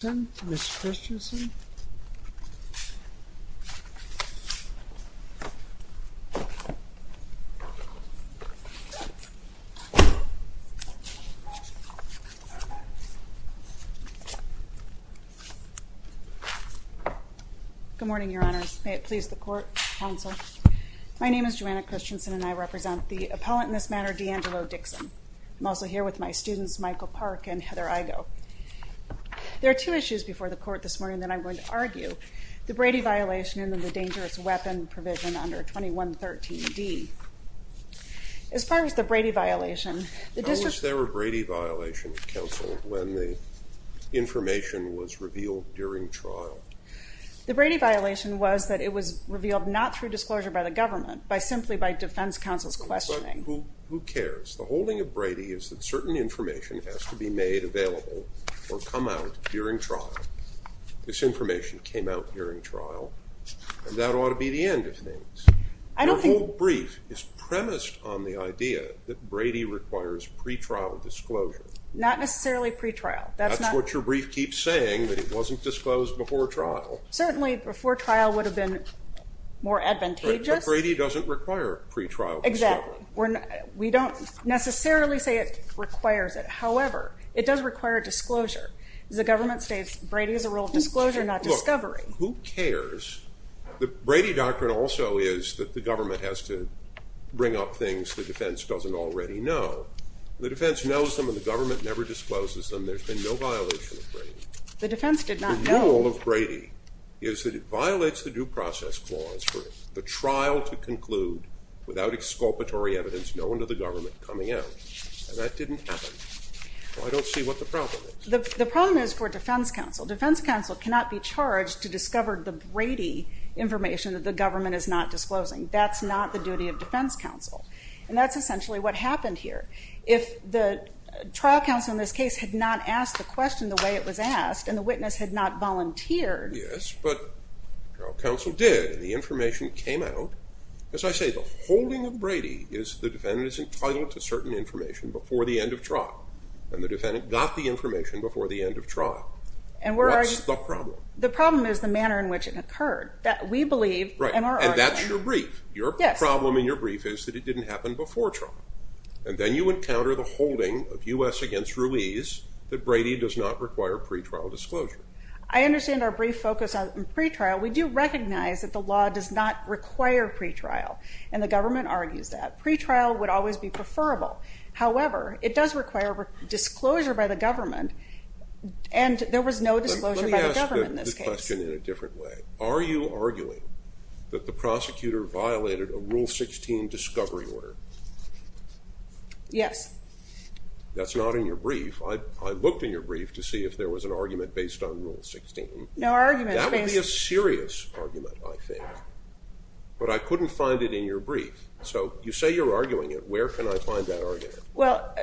Good morning, Your Honors. May it please the Court, Counsel. My name is Joanna Christensen and I represent the appellant in this matter, Deangelo Dixon. I'm also here with my students, and I have two issues before the Court this morning that I'm going to argue. The Brady violation and then the dangerous weapon provision under 2113d. As far as the Brady violation, the district... How was there a Brady violation, Counsel, when the information was revealed during trial? The Brady violation was that it was revealed not through disclosure by the government, but simply by defense counsel's questioning. But who cares? The holding of This information came out during trial, and that ought to be the end of things. I don't think... Your whole brief is premised on the idea that Brady requires pre-trial disclosure. Not necessarily pre-trial. That's not... That's what your brief keeps saying, that it wasn't disclosed before trial. Certainly, before trial would have been more advantageous. But Brady doesn't require pre-trial disclosure. Exactly. We don't necessarily say it requires it. However, it does require disclosure. The government states Brady is a rule of disclosure, not discovery. Who cares? The Brady doctrine also is that the government has to bring up things the defense doesn't already know. The defense knows them, and the government never discloses them. There's been no violation of Brady. The defense did not know. The rule of Brady is that it violates the due process clause for the trial to conclude without exculpatory evidence known to the government coming out. That didn't happen. I don't see what the problem is. The problem is for defense counsel. Defense counsel cannot be charged to discover the Brady information that the government is not disclosing. That's not the duty of defense counsel. And that's essentially what happened here. If the trial counsel in this case had not asked the question the way it was asked, and the witness had not volunteered... Yes, but counsel did. The information came out. As I say, the holding of Brady is the defendant is entitled to certain information before the end of trial, and the defendant got the information before the end of trial. What's the problem? The problem is the manner in which it occurred. That we believe... Right, and that's your brief. Your problem in your brief is that it didn't happen before trial. And then you encounter the holding of U.S. against Ruiz that Brady does not require pretrial disclosure. I understand our brief focus on require pretrial, and the government argues that. Pretrial would always be preferable. However, it does require disclosure by the government, and there was no disclosure by the government in this case. Let me ask this question in a different way. Are you arguing that the prosecutor violated a Rule 16 discovery order? Yes. That's not in your brief. I looked in your brief to see if there was an argument based on that. But I couldn't find it in your brief. So, you say you're arguing it. Where can I find that argument? Well,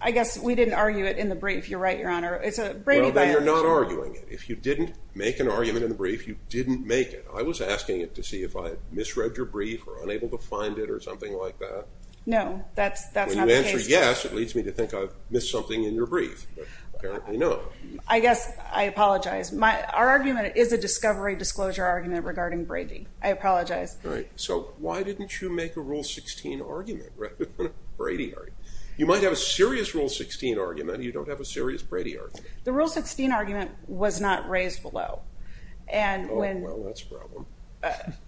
I guess we didn't argue it in the brief. You're right, Your Honor. It's a Brady bias. Well, then you're not arguing it. If you didn't make an argument in the brief, you didn't make it. I was asking it to see if I misread your brief or unable to find it or something like that. No, that's not the case. When you answer yes, it leads me to think I've missed something in your brief, but apparently no. I guess I apologize. Our argument is a discovery disclosure argument regarding Brady. I apologize. Right. So, why didn't you make a Rule 16 argument rather than a Brady argument? You might have a serious Rule 16 argument. You don't have a serious Brady argument. The Rule 16 argument was not raised below. Oh, well, that's a problem.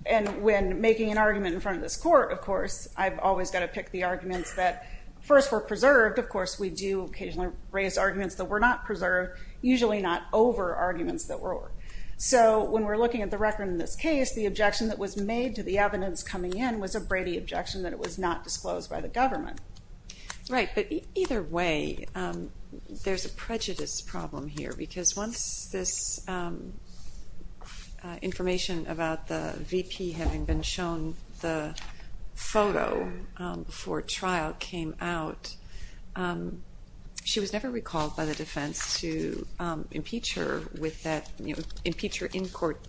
And when making an argument in front of this court, of course, I've always got to make the arguments that first were preserved. Of course, we do occasionally raise arguments that were not preserved, usually not over arguments that were. So, when we're looking at the record in this case, the objection that was made to the evidence coming in was a Brady objection that it was not disclosed by the government. Right, but either way, there's a prejudice problem here because once this information about the VP having been shown the photo before trial came out, she was never recalled by the defense to impeach her with that, you know, impeach her in court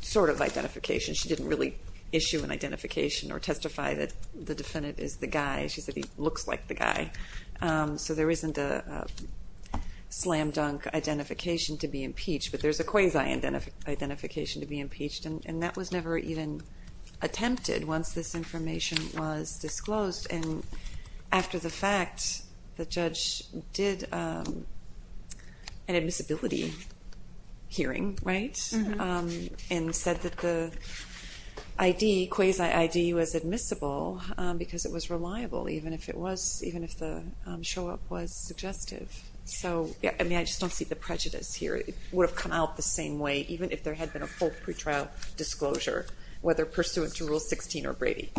sort of identification. She didn't really issue an identification or testify that the defendant is the guy. She said he looks like the guy. So, there isn't a non-dunk identification to be impeached, but there's a quasi-identification to be impeached, and that was never even attempted once this information was disclosed. And after the fact, the judge did an admissibility hearing, right, and said that the quasi-ID was admissible because it was reliable, even if the show-up was suggestive. So, I mean, I just don't see the prejudice here. It would have come out the same way even if there had been a full pre-trial disclosure, whether pursuant to Rule 16 or Brady.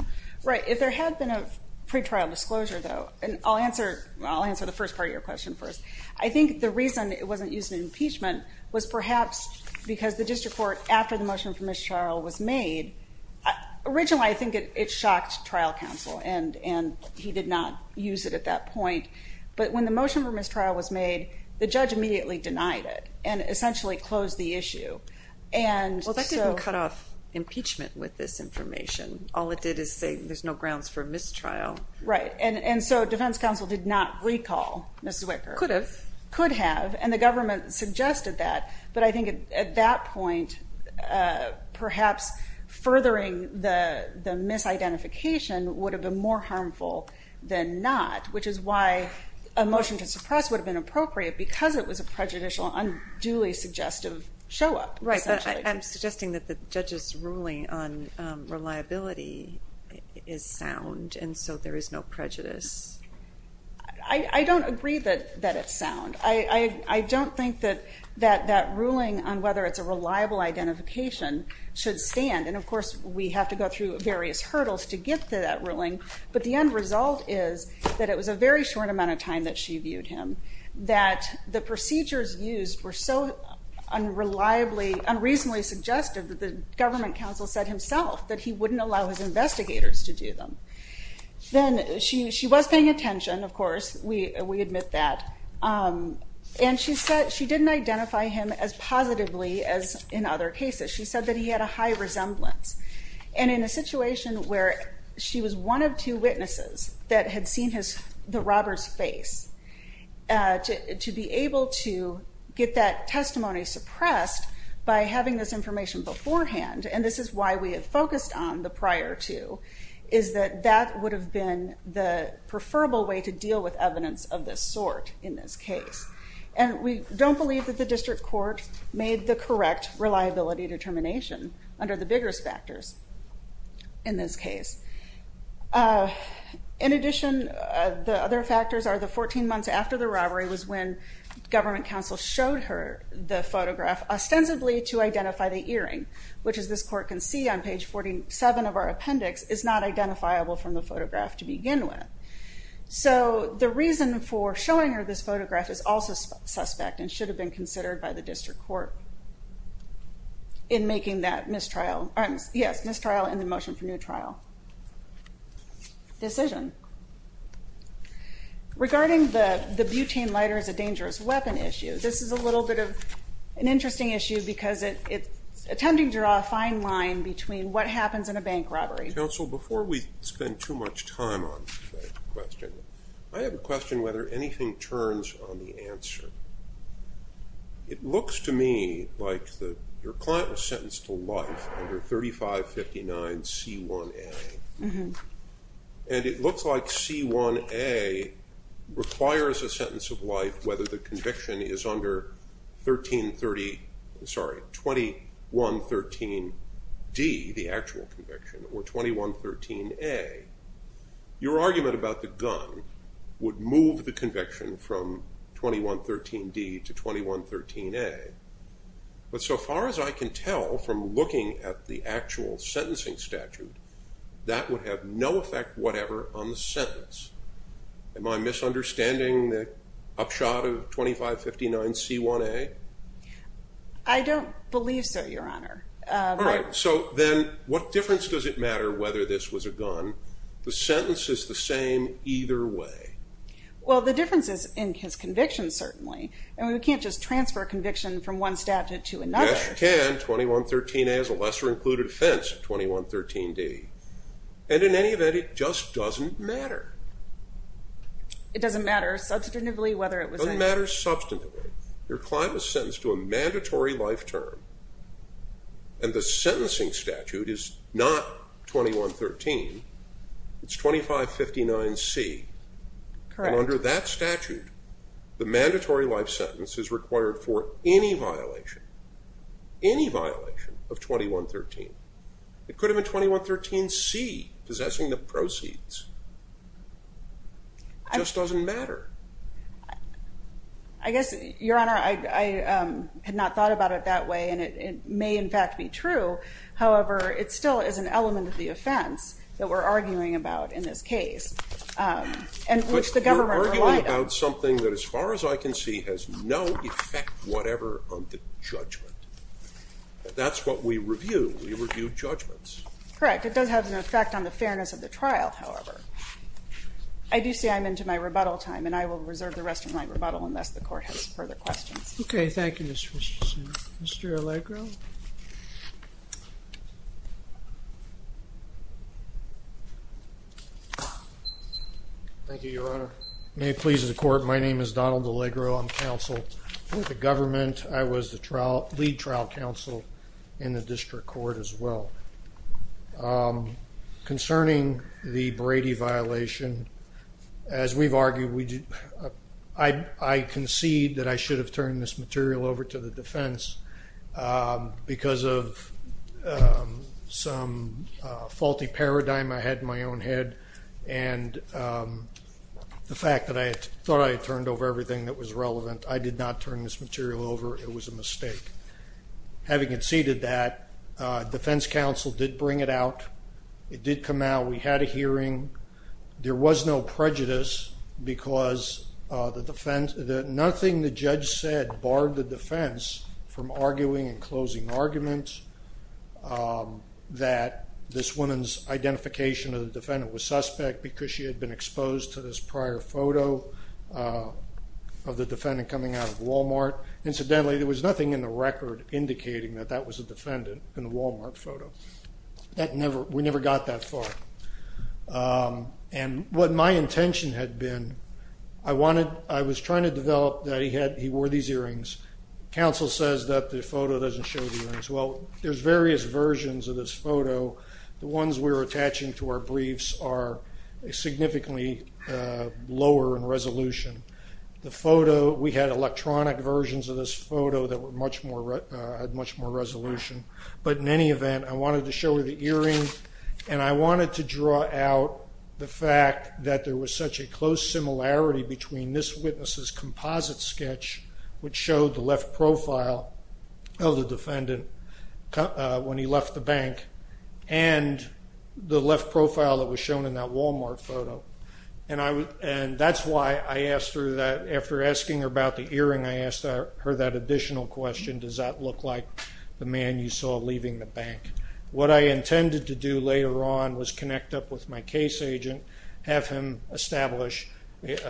Right. If there had been a pre-trial disclosure, though, and I'll answer the first part of your question first. I think the reason it wasn't used in impeachment was perhaps because the district court, after the motion for mistrial was made, originally I think it shocked trial counsel, and he did not use it at that point. But when the motion for mistrial was made, the judge immediately denied it and essentially closed the issue. Well, that didn't cut off impeachment with this information. All it did is say there's no grounds for mistrial. Right, and so defense counsel did not recall Mrs. Wicker. Could have. Could have, and the government suggested that, but I think at that point, perhaps furthering the misidentification would have been more harmful than not, which is why a motion to suppress would have been appropriate because it was a prejudicial, unduly suggestive show-up. Right, but I'm suggesting that the judge's ruling on reliability is sound, and so there is no prejudice. I don't agree that it's sound. I don't think that that ruling on whether it's a reliable identification should stand, and of course we have to go through various hurdles to get to that ruling, but the end result is that it was a very short amount of time that she viewed him, that the judge said himself that he wouldn't allow his investigators to do them. Then she was paying attention, of course, we admit that, and she said she didn't identify him as positively as in other cases. She said that he had a high resemblance, and in a situation where she was one of two witnesses that had seen the robber's face, to be able to get that testimony suppressed by having this information beforehand, and this is why we have focused on the prior two, is that that would have been the preferable way to deal with evidence of this sort in this case, and we don't believe that the district court made the correct reliability determination under the biggest factors in this case. In addition, the other factors are the 14 months after the robbery was when government counsel showed her the photograph ostensibly to identify the earring, which as this court can see on page 47 of our appendix, is not identifiable from the photograph to begin with. So the reason for showing her this photograph is also suspect and should have been considered by the district court in making that mistrial, yes, mistrial and the motion for new trial decision. Regarding the butane lighter as a dangerous weapon issue, this is a little bit of an interesting issue because it's attempting to draw a fine line between what happens in a bank robbery. Counsel, before we spend too much time on that question, I have a question whether anything turns on the answer. It looks to me like your client was sentenced to life under 3559 C1A. And it looks like C1A requires a sentence of life whether the conviction is under 1330, sorry, 2113 D, the actual conviction, or 2113 A. Your argument about the gun would move the conviction from 2113 D to 2113 A. But so far as I can tell from looking at the actual sentencing statute, that would have no effect whatever on the sentence. Am I misunderstanding the shot of 2559 C1A? I don't believe so, Your Honor. Alright, so then what difference does it matter whether this was a gun? The sentence is the same either way. Well, the difference is in his conviction certainly. I mean, we can't just transfer a conviction from one statute to another. Yes, you can. 2113 A is a lesser included offense of 2113 D. And in any event, it just doesn't matter. It doesn't matter substantively whether it was a... It doesn't matter substantively. Your client was sentenced to a mandatory life term and the sentencing statute is not 2113. It's 2559 C. Correct. And under that statute, the mandatory life sentence is required for any violation. Any violation of 2113. It could have been 2113 C, possessing the proceeds. It just doesn't matter. I guess, Your Honor, I had not thought about it that way and it may in fact be true. However, it still is an element of the offense that we're arguing about in this case. You're arguing about something that as far as I can see has no effect whatever on the judgment. That's what we review. We review judgments. Correct. It does have an effect on the fairness of the trial, however. I do say I'm into my rebuttal time and I will reserve the rest of my rebuttal unless the Court has further questions. Okay. Thank you, Ms. Richardson. Mr. Allegro? Thank you, Your Honor. May it please the Court, my name is Donald Allegro. I'm counsel for the government. I was the lead trial counsel in the district court as well. Concerning the Brady violation, as we've argued, I concede that I should have turned this material over to the defense because of some faulty paradigm I had in my own head and the fact that I thought I had turned over everything that was relevant. I did not turn this material over. It was a mistake. Having conceded that, defense counsel did bring it out. It did come out. We had a hearing. There was no prejudice because nothing the judge said barred the defense from arguing and closing arguments that this woman's identification of the defendant was suspect because she had been exposed to this prior photo of the defendant coming out of Walmart. Incidentally, there was nothing in the record indicating that that was a defendant in the Walmart photo. We never got that far. I was trying to develop that he wore these earrings. Counsel says that the photo doesn't show the earrings. Well, there's various versions of this photo. The ones we were attaching to our briefs are significantly lower in resolution. We had electronic versions of this photo that had much more resolution. In any event, I wanted to show her the earrings and I wanted to draw out the fact that there was such a close similarity between this witness's composite sketch, which showed the left profile of the defendant when he left the bank, and the left profile that was shown in that Walmart photo. After asking her about the earring, I asked her that additional question, does that look like the man you saw leaving the bank? What I intended to do later on was connect up with my case agent, have him establish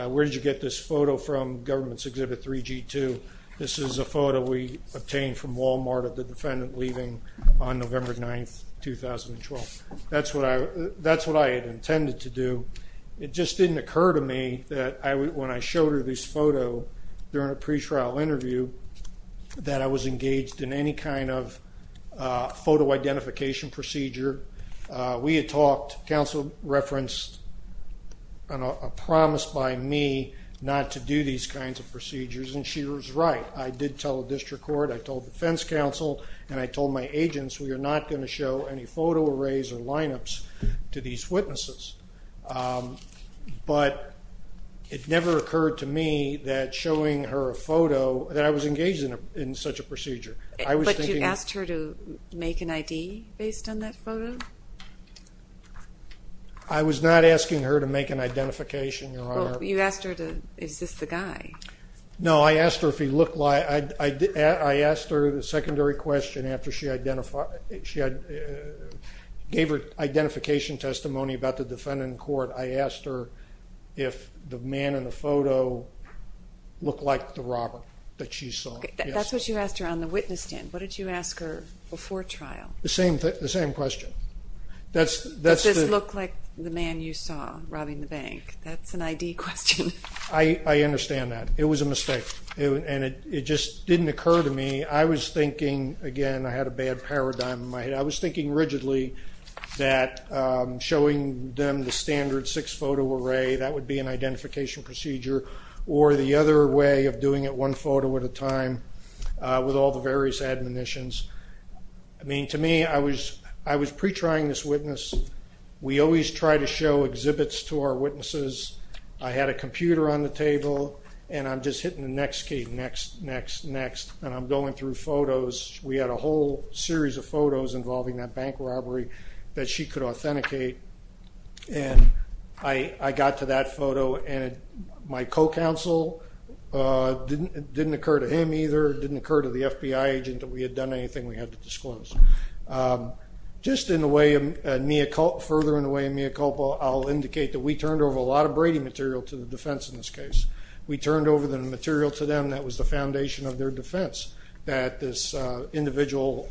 where did you get this photo from, government's exhibit 3G2. This is a photo we obtained from Walmart of the defendant leaving on November 9, 2012. That's what I had intended to do. It just didn't occur to me that when I showed her this photo during a pre-trial interview, that I was engaged in any kind of photo identification procedure. We had talked, counsel referenced a promise by me not to do these kinds of procedures, and she was right. I did tell the district court, I told the defense counsel, and I told my agents we are not going to show any photo arrays or lineups to these witnesses. But, it never occurred to me that showing her a photo, that I was engaged in such a procedure. But you asked her to make an ID based on that photo? I was not asking her to make an identification, your honor. You asked her, is this the guy? No, I asked her if he looked like, I asked her the secondary question after she gave her identification testimony about the defendant in court, I asked her if the man in the photo looked like the robber that she saw. That's what you asked her on the witness stand. What did you ask her before trial? The same question. Does this look like the man you saw robbing the bank? That's an ID question. I understand that. It was a mistake. It just didn't occur to me. I was thinking, again, I had a bad paradigm in my head. I was thinking or the other way of doing it, one photo at a time, with all the various admonitions. I mean, to me, I was pre-trying this witness. We always try to show exhibits to our witnesses. I had a computer on the table, and I'm just hitting the next key, next, next, next, and I'm going through photos. We had a whole series of photos involving that bank robbery that she could authenticate, and I got to that photo, and my co-counsel, it didn't occur to him either, it didn't occur to the FBI agent that we had done anything we had to disclose. Just in a way, further in a way, in mea culpa, I'll indicate that we turned over a lot of Brady material to the defense in this case. We turned over the material to them that was the foundation of their defense, that this individual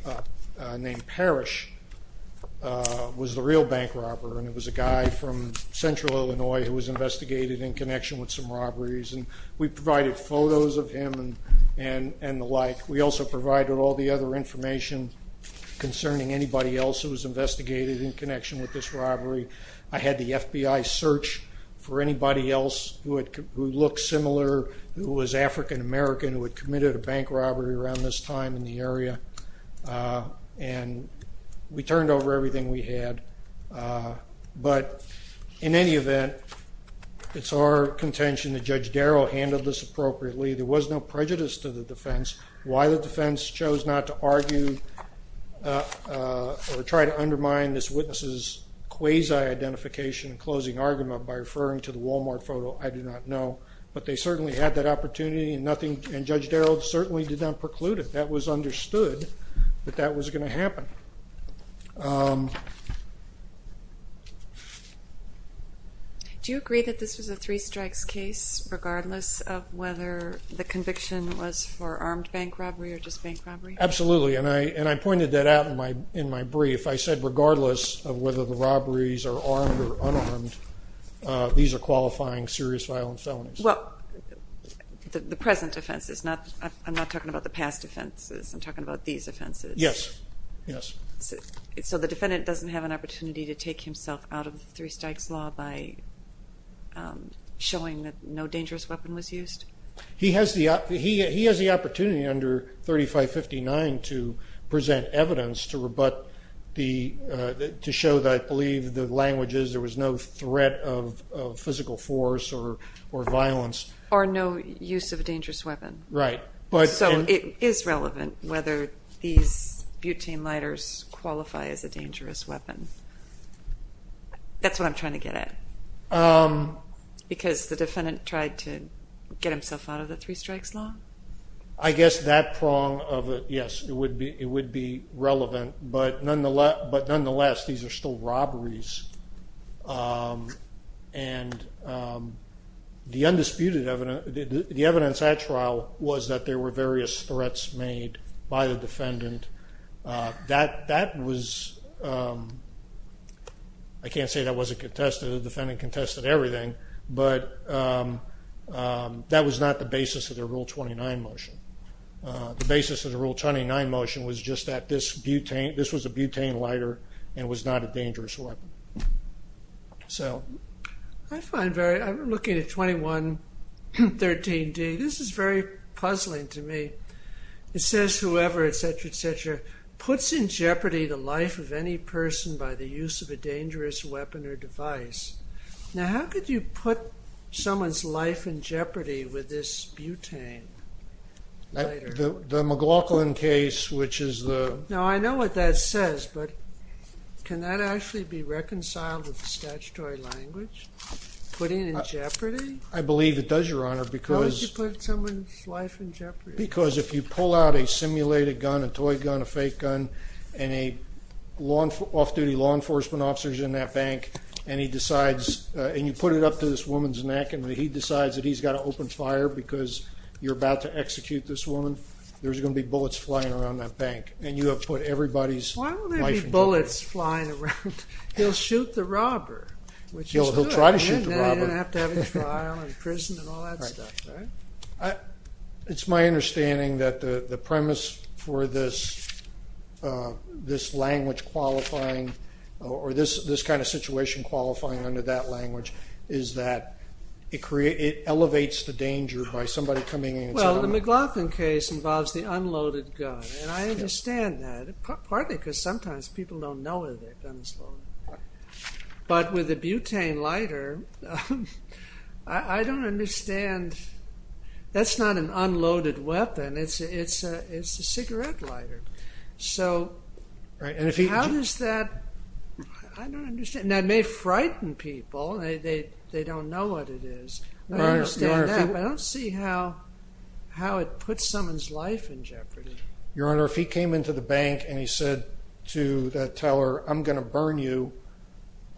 named Parrish was the real bank robber, and it was a guy from central Illinois who was investigated in connection with some robberies, and we provided photos of him and the like. We also provided all the other information concerning anybody else who was investigated in connection with this robbery. I had the FBI search for anybody else who looked similar, who was African American, who had committed a bank robbery around this time in the area, and we turned over everything we had, but in any event, it's our contention that Judge Darrow handled this appropriately. There was no prejudice to the defense. Why the defense chose not to argue or try to undermine this witness's quasi-identification and closing argument by referring to the Walmart photo, I do not know, but they certainly had that opportunity, and Judge Darrow certainly did not preclude it. That was understood that that was going to happen. Do you agree that this was a three strikes case, regardless of whether the conviction was for armed bank robbery or just bank robbery? Absolutely, and I pointed that out in my brief. I said regardless of whether the robberies are armed or unarmed, these are qualifying serious violence felonies. The present offense, I'm not talking about the past offenses, I'm talking about these offenses. Yes. So the defendant doesn't have an opportunity to take himself out of the three strikes law by showing that no dangerous weapon was used? He has the opportunity under 3559 to present evidence to show that I believe the language is there was no threat of physical force or violence. Or no use of a dangerous weapon. Right. So it is relevant whether these butane lighters qualify as a dangerous weapon. That's what I'm trying to get at. Because the defendant tried to get himself out of the three strikes law? I guess that prong of it, yes, it would be relevant. But nonetheless, these are still robberies. And the evidence at trial was that there were various threats made by the defendant. I can't say that wasn't contested, the defendant contested everything, but that was not the basis of the Rule 29 motion. The basis of the Rule 29 motion was just that this was a butane lighter and was not a dangerous weapon. I'm looking at 2113D, this is very puzzling to me. It says whoever etc. etc. puts in jeopardy the life of any person by the use of a dangerous weapon or device. Now how could you put someone's life in jeopardy with this butane lighter? The McLaughlin case, which is the... Now I know what that says, but can that actually be reconciled with the statutory language? Putting in jeopardy? I believe it does, Your Honor, because... How would you put someone's life in jeopardy? Because if you pull out a simulated gun, a toy gun, a fake gun, and an off-duty law enforcement officer is in that bank and he decides, and you put it up to this woman's neck and he decides that he's got to open fire because you're about to execute this woman, there's going to be bullets flying around that bank. And you have put everybody's life in jeopardy. Why would there be bullets flying around? He'll shoot the robber. He'll try to shoot the robber. Then he doesn't have to have any trial in prison and all that stuff. It's my understanding that the premise for this language qualifying or this kind of situation qualifying under that language is that it elevates the danger by somebody coming in... Well, the McLaughlin case involves the unloaded gun. And I understand that, partly because sometimes people don't know that they've done this. But with a butane lighter, I don't understand... That's not an unloaded weapon. It's a cigarette lighter. So, how does that... I don't understand. That may frighten people. They don't know what it is. I understand that, but I don't see how it puts someone's life in jeopardy. Your Honor, if he came into the bank and he said to the teller, I'm going to burn you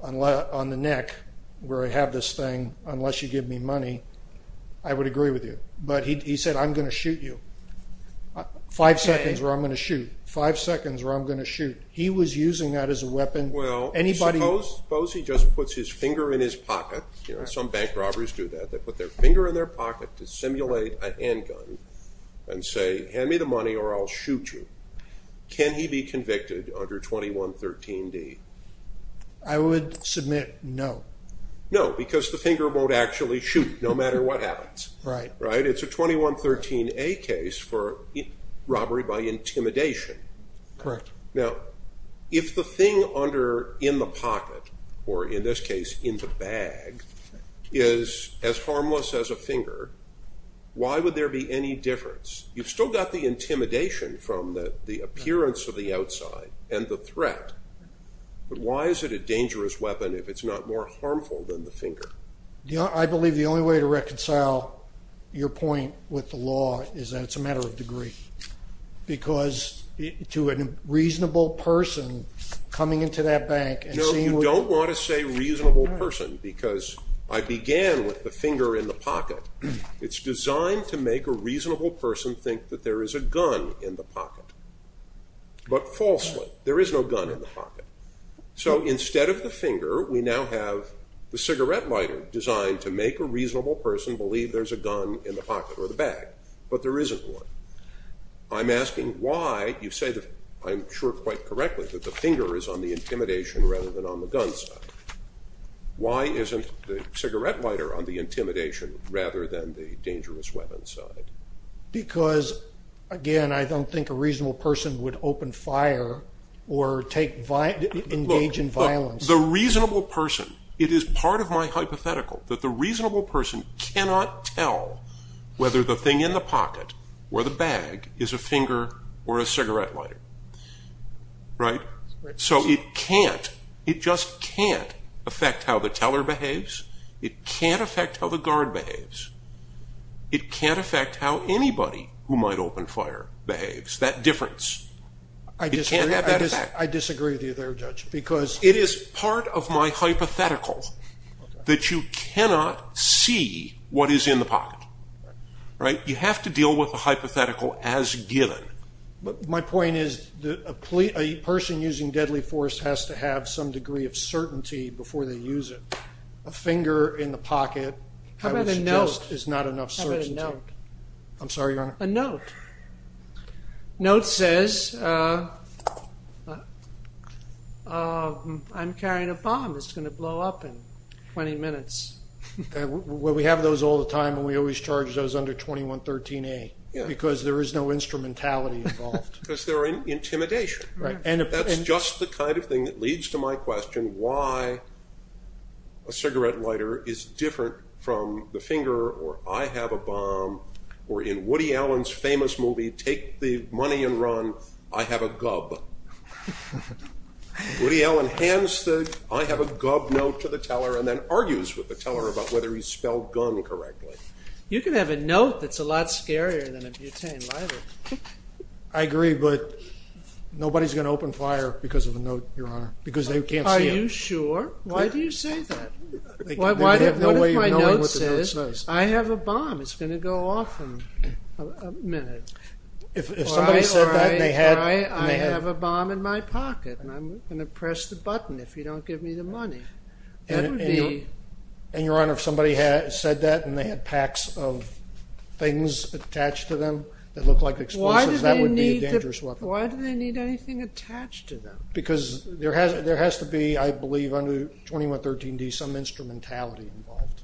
on the neck, where I have this thing, unless you give me money, I would agree with you. But he said, I'm going to shoot you. Five seconds where I'm going to shoot. He was using that as a weapon. Suppose he just puts his finger in his pocket. Some bank robberies do that. They put their finger in their pocket to simulate a handgun and say, hand me the money or I'll shoot you. Can he be convicted under 2113D? I would submit no. No, because the finger won't actually shoot, no matter what happens. It's a 2113A case for robbery by intimidation. Correct. Now, if the thing in the pocket, or in this case, in the bag, is as harmless as a finger, why would there be any difference? You've still got the intimidation from the appearance of the outside and the threat, but why is it a dangerous weapon if it's not more harmful than the finger? I believe the only way to reconcile your point with the law is that it's a matter of degree. Because to a reasonable person coming into that bank... You don't want to say reasonable person, because I began with the finger in the pocket. It's designed to make a reasonable person think that there is a gun in the pocket. But falsely, there is no gun in the pocket. So instead of the finger, we now have the cigarette lighter designed to make a reasonable person believe there's a gun in the pocket or the bag. But there isn't one. I'm asking why you say that, I'm sure quite correctly, that the finger is on the intimidation rather than on the gun side. Why isn't the cigarette lighter on the intimidation rather than the dangerous weapon side? Because, again, I don't think a reasonable person would open fire or engage in violence. It is part of my hypothetical that the reasonable person cannot tell whether the thing in the pocket or the bag is a finger or a cigarette lighter. So it can't, it just can't affect how the teller behaves. It can't affect how the guard behaves. It can't affect how anybody who might open fire behaves. That difference. It can't have that effect. It is part of my hypothetical that you cannot see what is in the pocket. You have to deal with the hypothetical as given. My point is that a person using deadly force has to have some degree of certainty before they use it. A finger in the pocket is not enough certainty. A note. A note says, I'm carrying a bomb. It's going to blow up in 20 minutes. We have those all the time and we always charge those under 2113A. Because there is no instrumentality involved. Because they're in intimidation. That's just the kind of thing that leads to my question. Why a cigarette lighter is different from the finger, or I have a bomb, or in Woody Allen's famous movie, take the money and run, I have a gub. Woody Allen hands the I have a gub note to the teller and then argues with the teller about whether he spelled gun correctly. You can have a note that's a lot scarier than a butane lighter. I agree, but nobody's going to open fire because of a note, Your Honor. Because they can't see it. Are you sure? Why do you say that? What if my note says, I have a bomb. It's going to go off in a minute. If somebody said that and they had... Or I have a bomb in my pocket and I'm going to press the button if you don't give me the money. And, Your Honor, if somebody said that and they had packs of things attached to them that looked like explosives, that would be a dangerous weapon. Why do they need anything attached to them? Because there has to be, I believe, under 2113D, some instrumentality involved.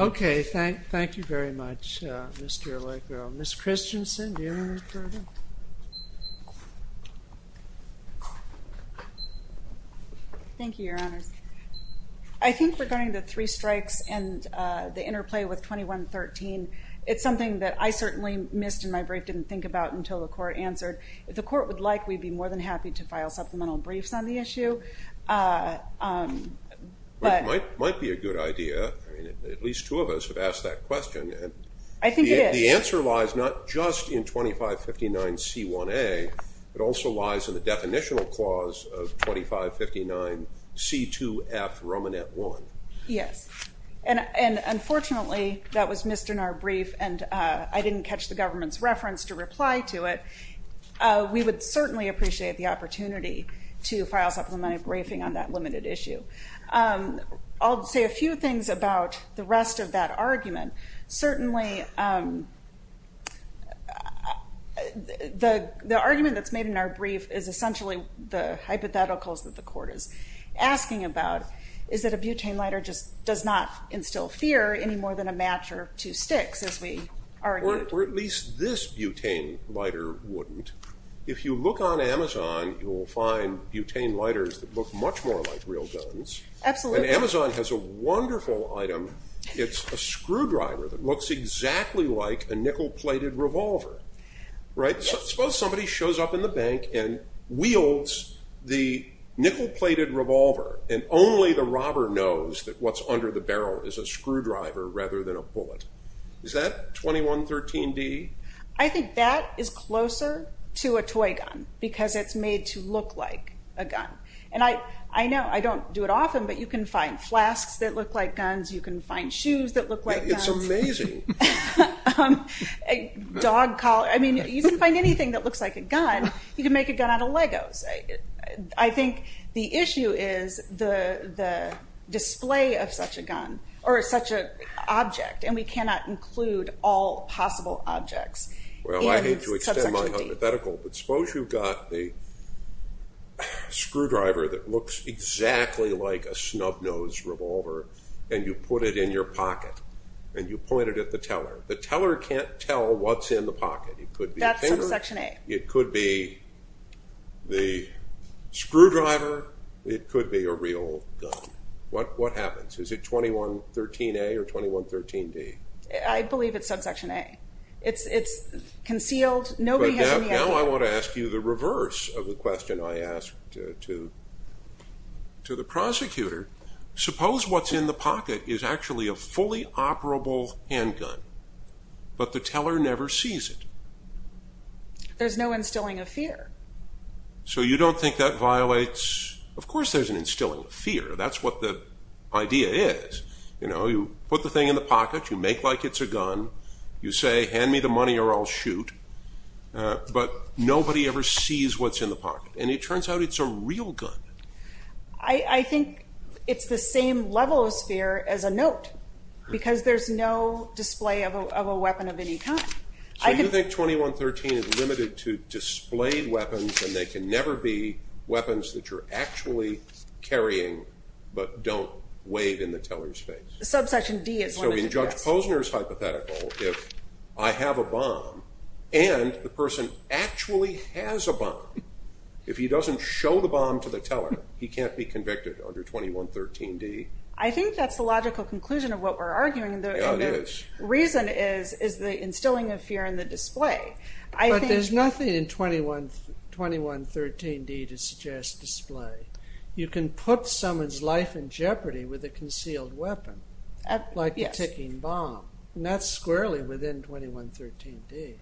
Okay, thank you very much, Mr. Ehrlich. Ms. Christensen, do you have anything to say? Thank you, Your Honors. I think regarding the three strikes and the interplay with 2113, it's something that I certainly missed in my brief, didn't think about until the court answered. If the court would like, we'd be more than happy to file supplemental briefs on the issue. It might be a good idea. At least two of us have asked that question. I think it is. The answer lies not just in 2559C1A, it also lies in the definitional clause of 2559C2F, Romanet I. Yes. And unfortunately, that was missed in our brief, and I didn't catch the government's reference to reply to it. We would certainly appreciate the opportunity to file supplemental briefing on that limited issue. I'll say a few things about the rest of that argument. Certainly, the argument that's made in our brief is essentially the hypotheticals that the court is asking about. Is that a butane lighter just does not instill fear any more than a match or two sticks, as we argued. Or at least this butane lighter wouldn't. If you look on Amazon, you'll find butane lighters that look much more like real guns. Absolutely. And Amazon has a wonderful item. It's a screwdriver that looks exactly like a nickel-plated revolver. Suppose somebody shows up in the bank and wields the nickel-plated revolver, and only the robber knows that what's under the barrel is a screwdriver rather than a bullet. Is that 2113D? I think that is closer to a toy gun because it's made to look like a gun. And I know I don't do it often, but you can find flasks that look like guns. You can find shoes that look like guns. It's amazing. Dog collar. I mean, you can find anything that looks like a gun. You can make a gun out of Legos. I think the issue is the display of such a gun or such an object, and we cannot include all possible objects. Well, I hate to extend my hypothetical, but suppose you've got a screwdriver that looks exactly like a snub-nosed revolver, and you put it in your pocket. And you point it at the teller. The teller can't tell what's in the pocket. It could be a finger. That's subsection A. It could be the screwdriver. It could be a real gun. What happens? Is it 2113A or 2113D? I believe it's subsection A. It's concealed. Nobody has any idea. Now I want to ask you the reverse of the question I asked to the prosecutor. Suppose what's in the pocket is actually a fully operable handgun, but the teller never sees it. There's no instilling of fear. So you don't think that violates? Of course there's an instilling of fear. That's what the idea is. You put the thing in the pocket. You make like it's a gun. You say, hand me the money or I'll shoot. But nobody ever sees what's in the pocket. And it turns out it's a real gun. I think it's the same level of fear as a note, because there's no display of a weapon of any kind. So you think 2113 is limited to displayed weapons, and they can never be weapons that you're actually carrying but don't wave in the teller's face? Subsection D is limited to that. In Judge Posner's hypothetical, if I have a bomb and the person actually has a bomb, if he doesn't show the bomb to the teller, he can't be convicted under 2113D. I think that's the logical conclusion of what we're arguing. Yeah, it is. And the reason is the instilling of fear in the display. But there's nothing in 2113D to suggest display. You can put someone's life in jeopardy with a concealed weapon, like a ticking bomb, and that's squarely within 2113D.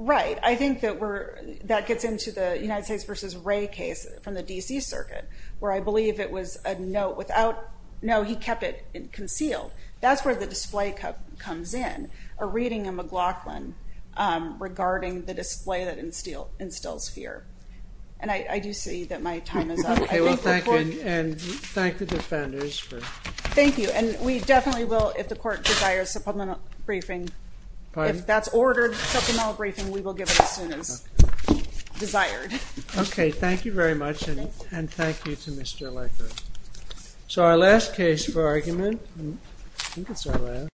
Right. I think that gets into the United States v. Wray case from the D.C. Circuit, where I believe it was a note without, no, he kept it concealed. That's where the display comes in, a reading in McLaughlin regarding the display that instills fear. And I do see that my time is up. Okay. Well, thank you, and thank the defenders. Thank you. And we definitely will, if the court desires supplemental briefing. Pardon? If that's ordered supplemental briefing, we will give it as soon as desired. Okay. Thank you very much, and thank you to Mr. Lecker. So our last case for argument, I think it's our last.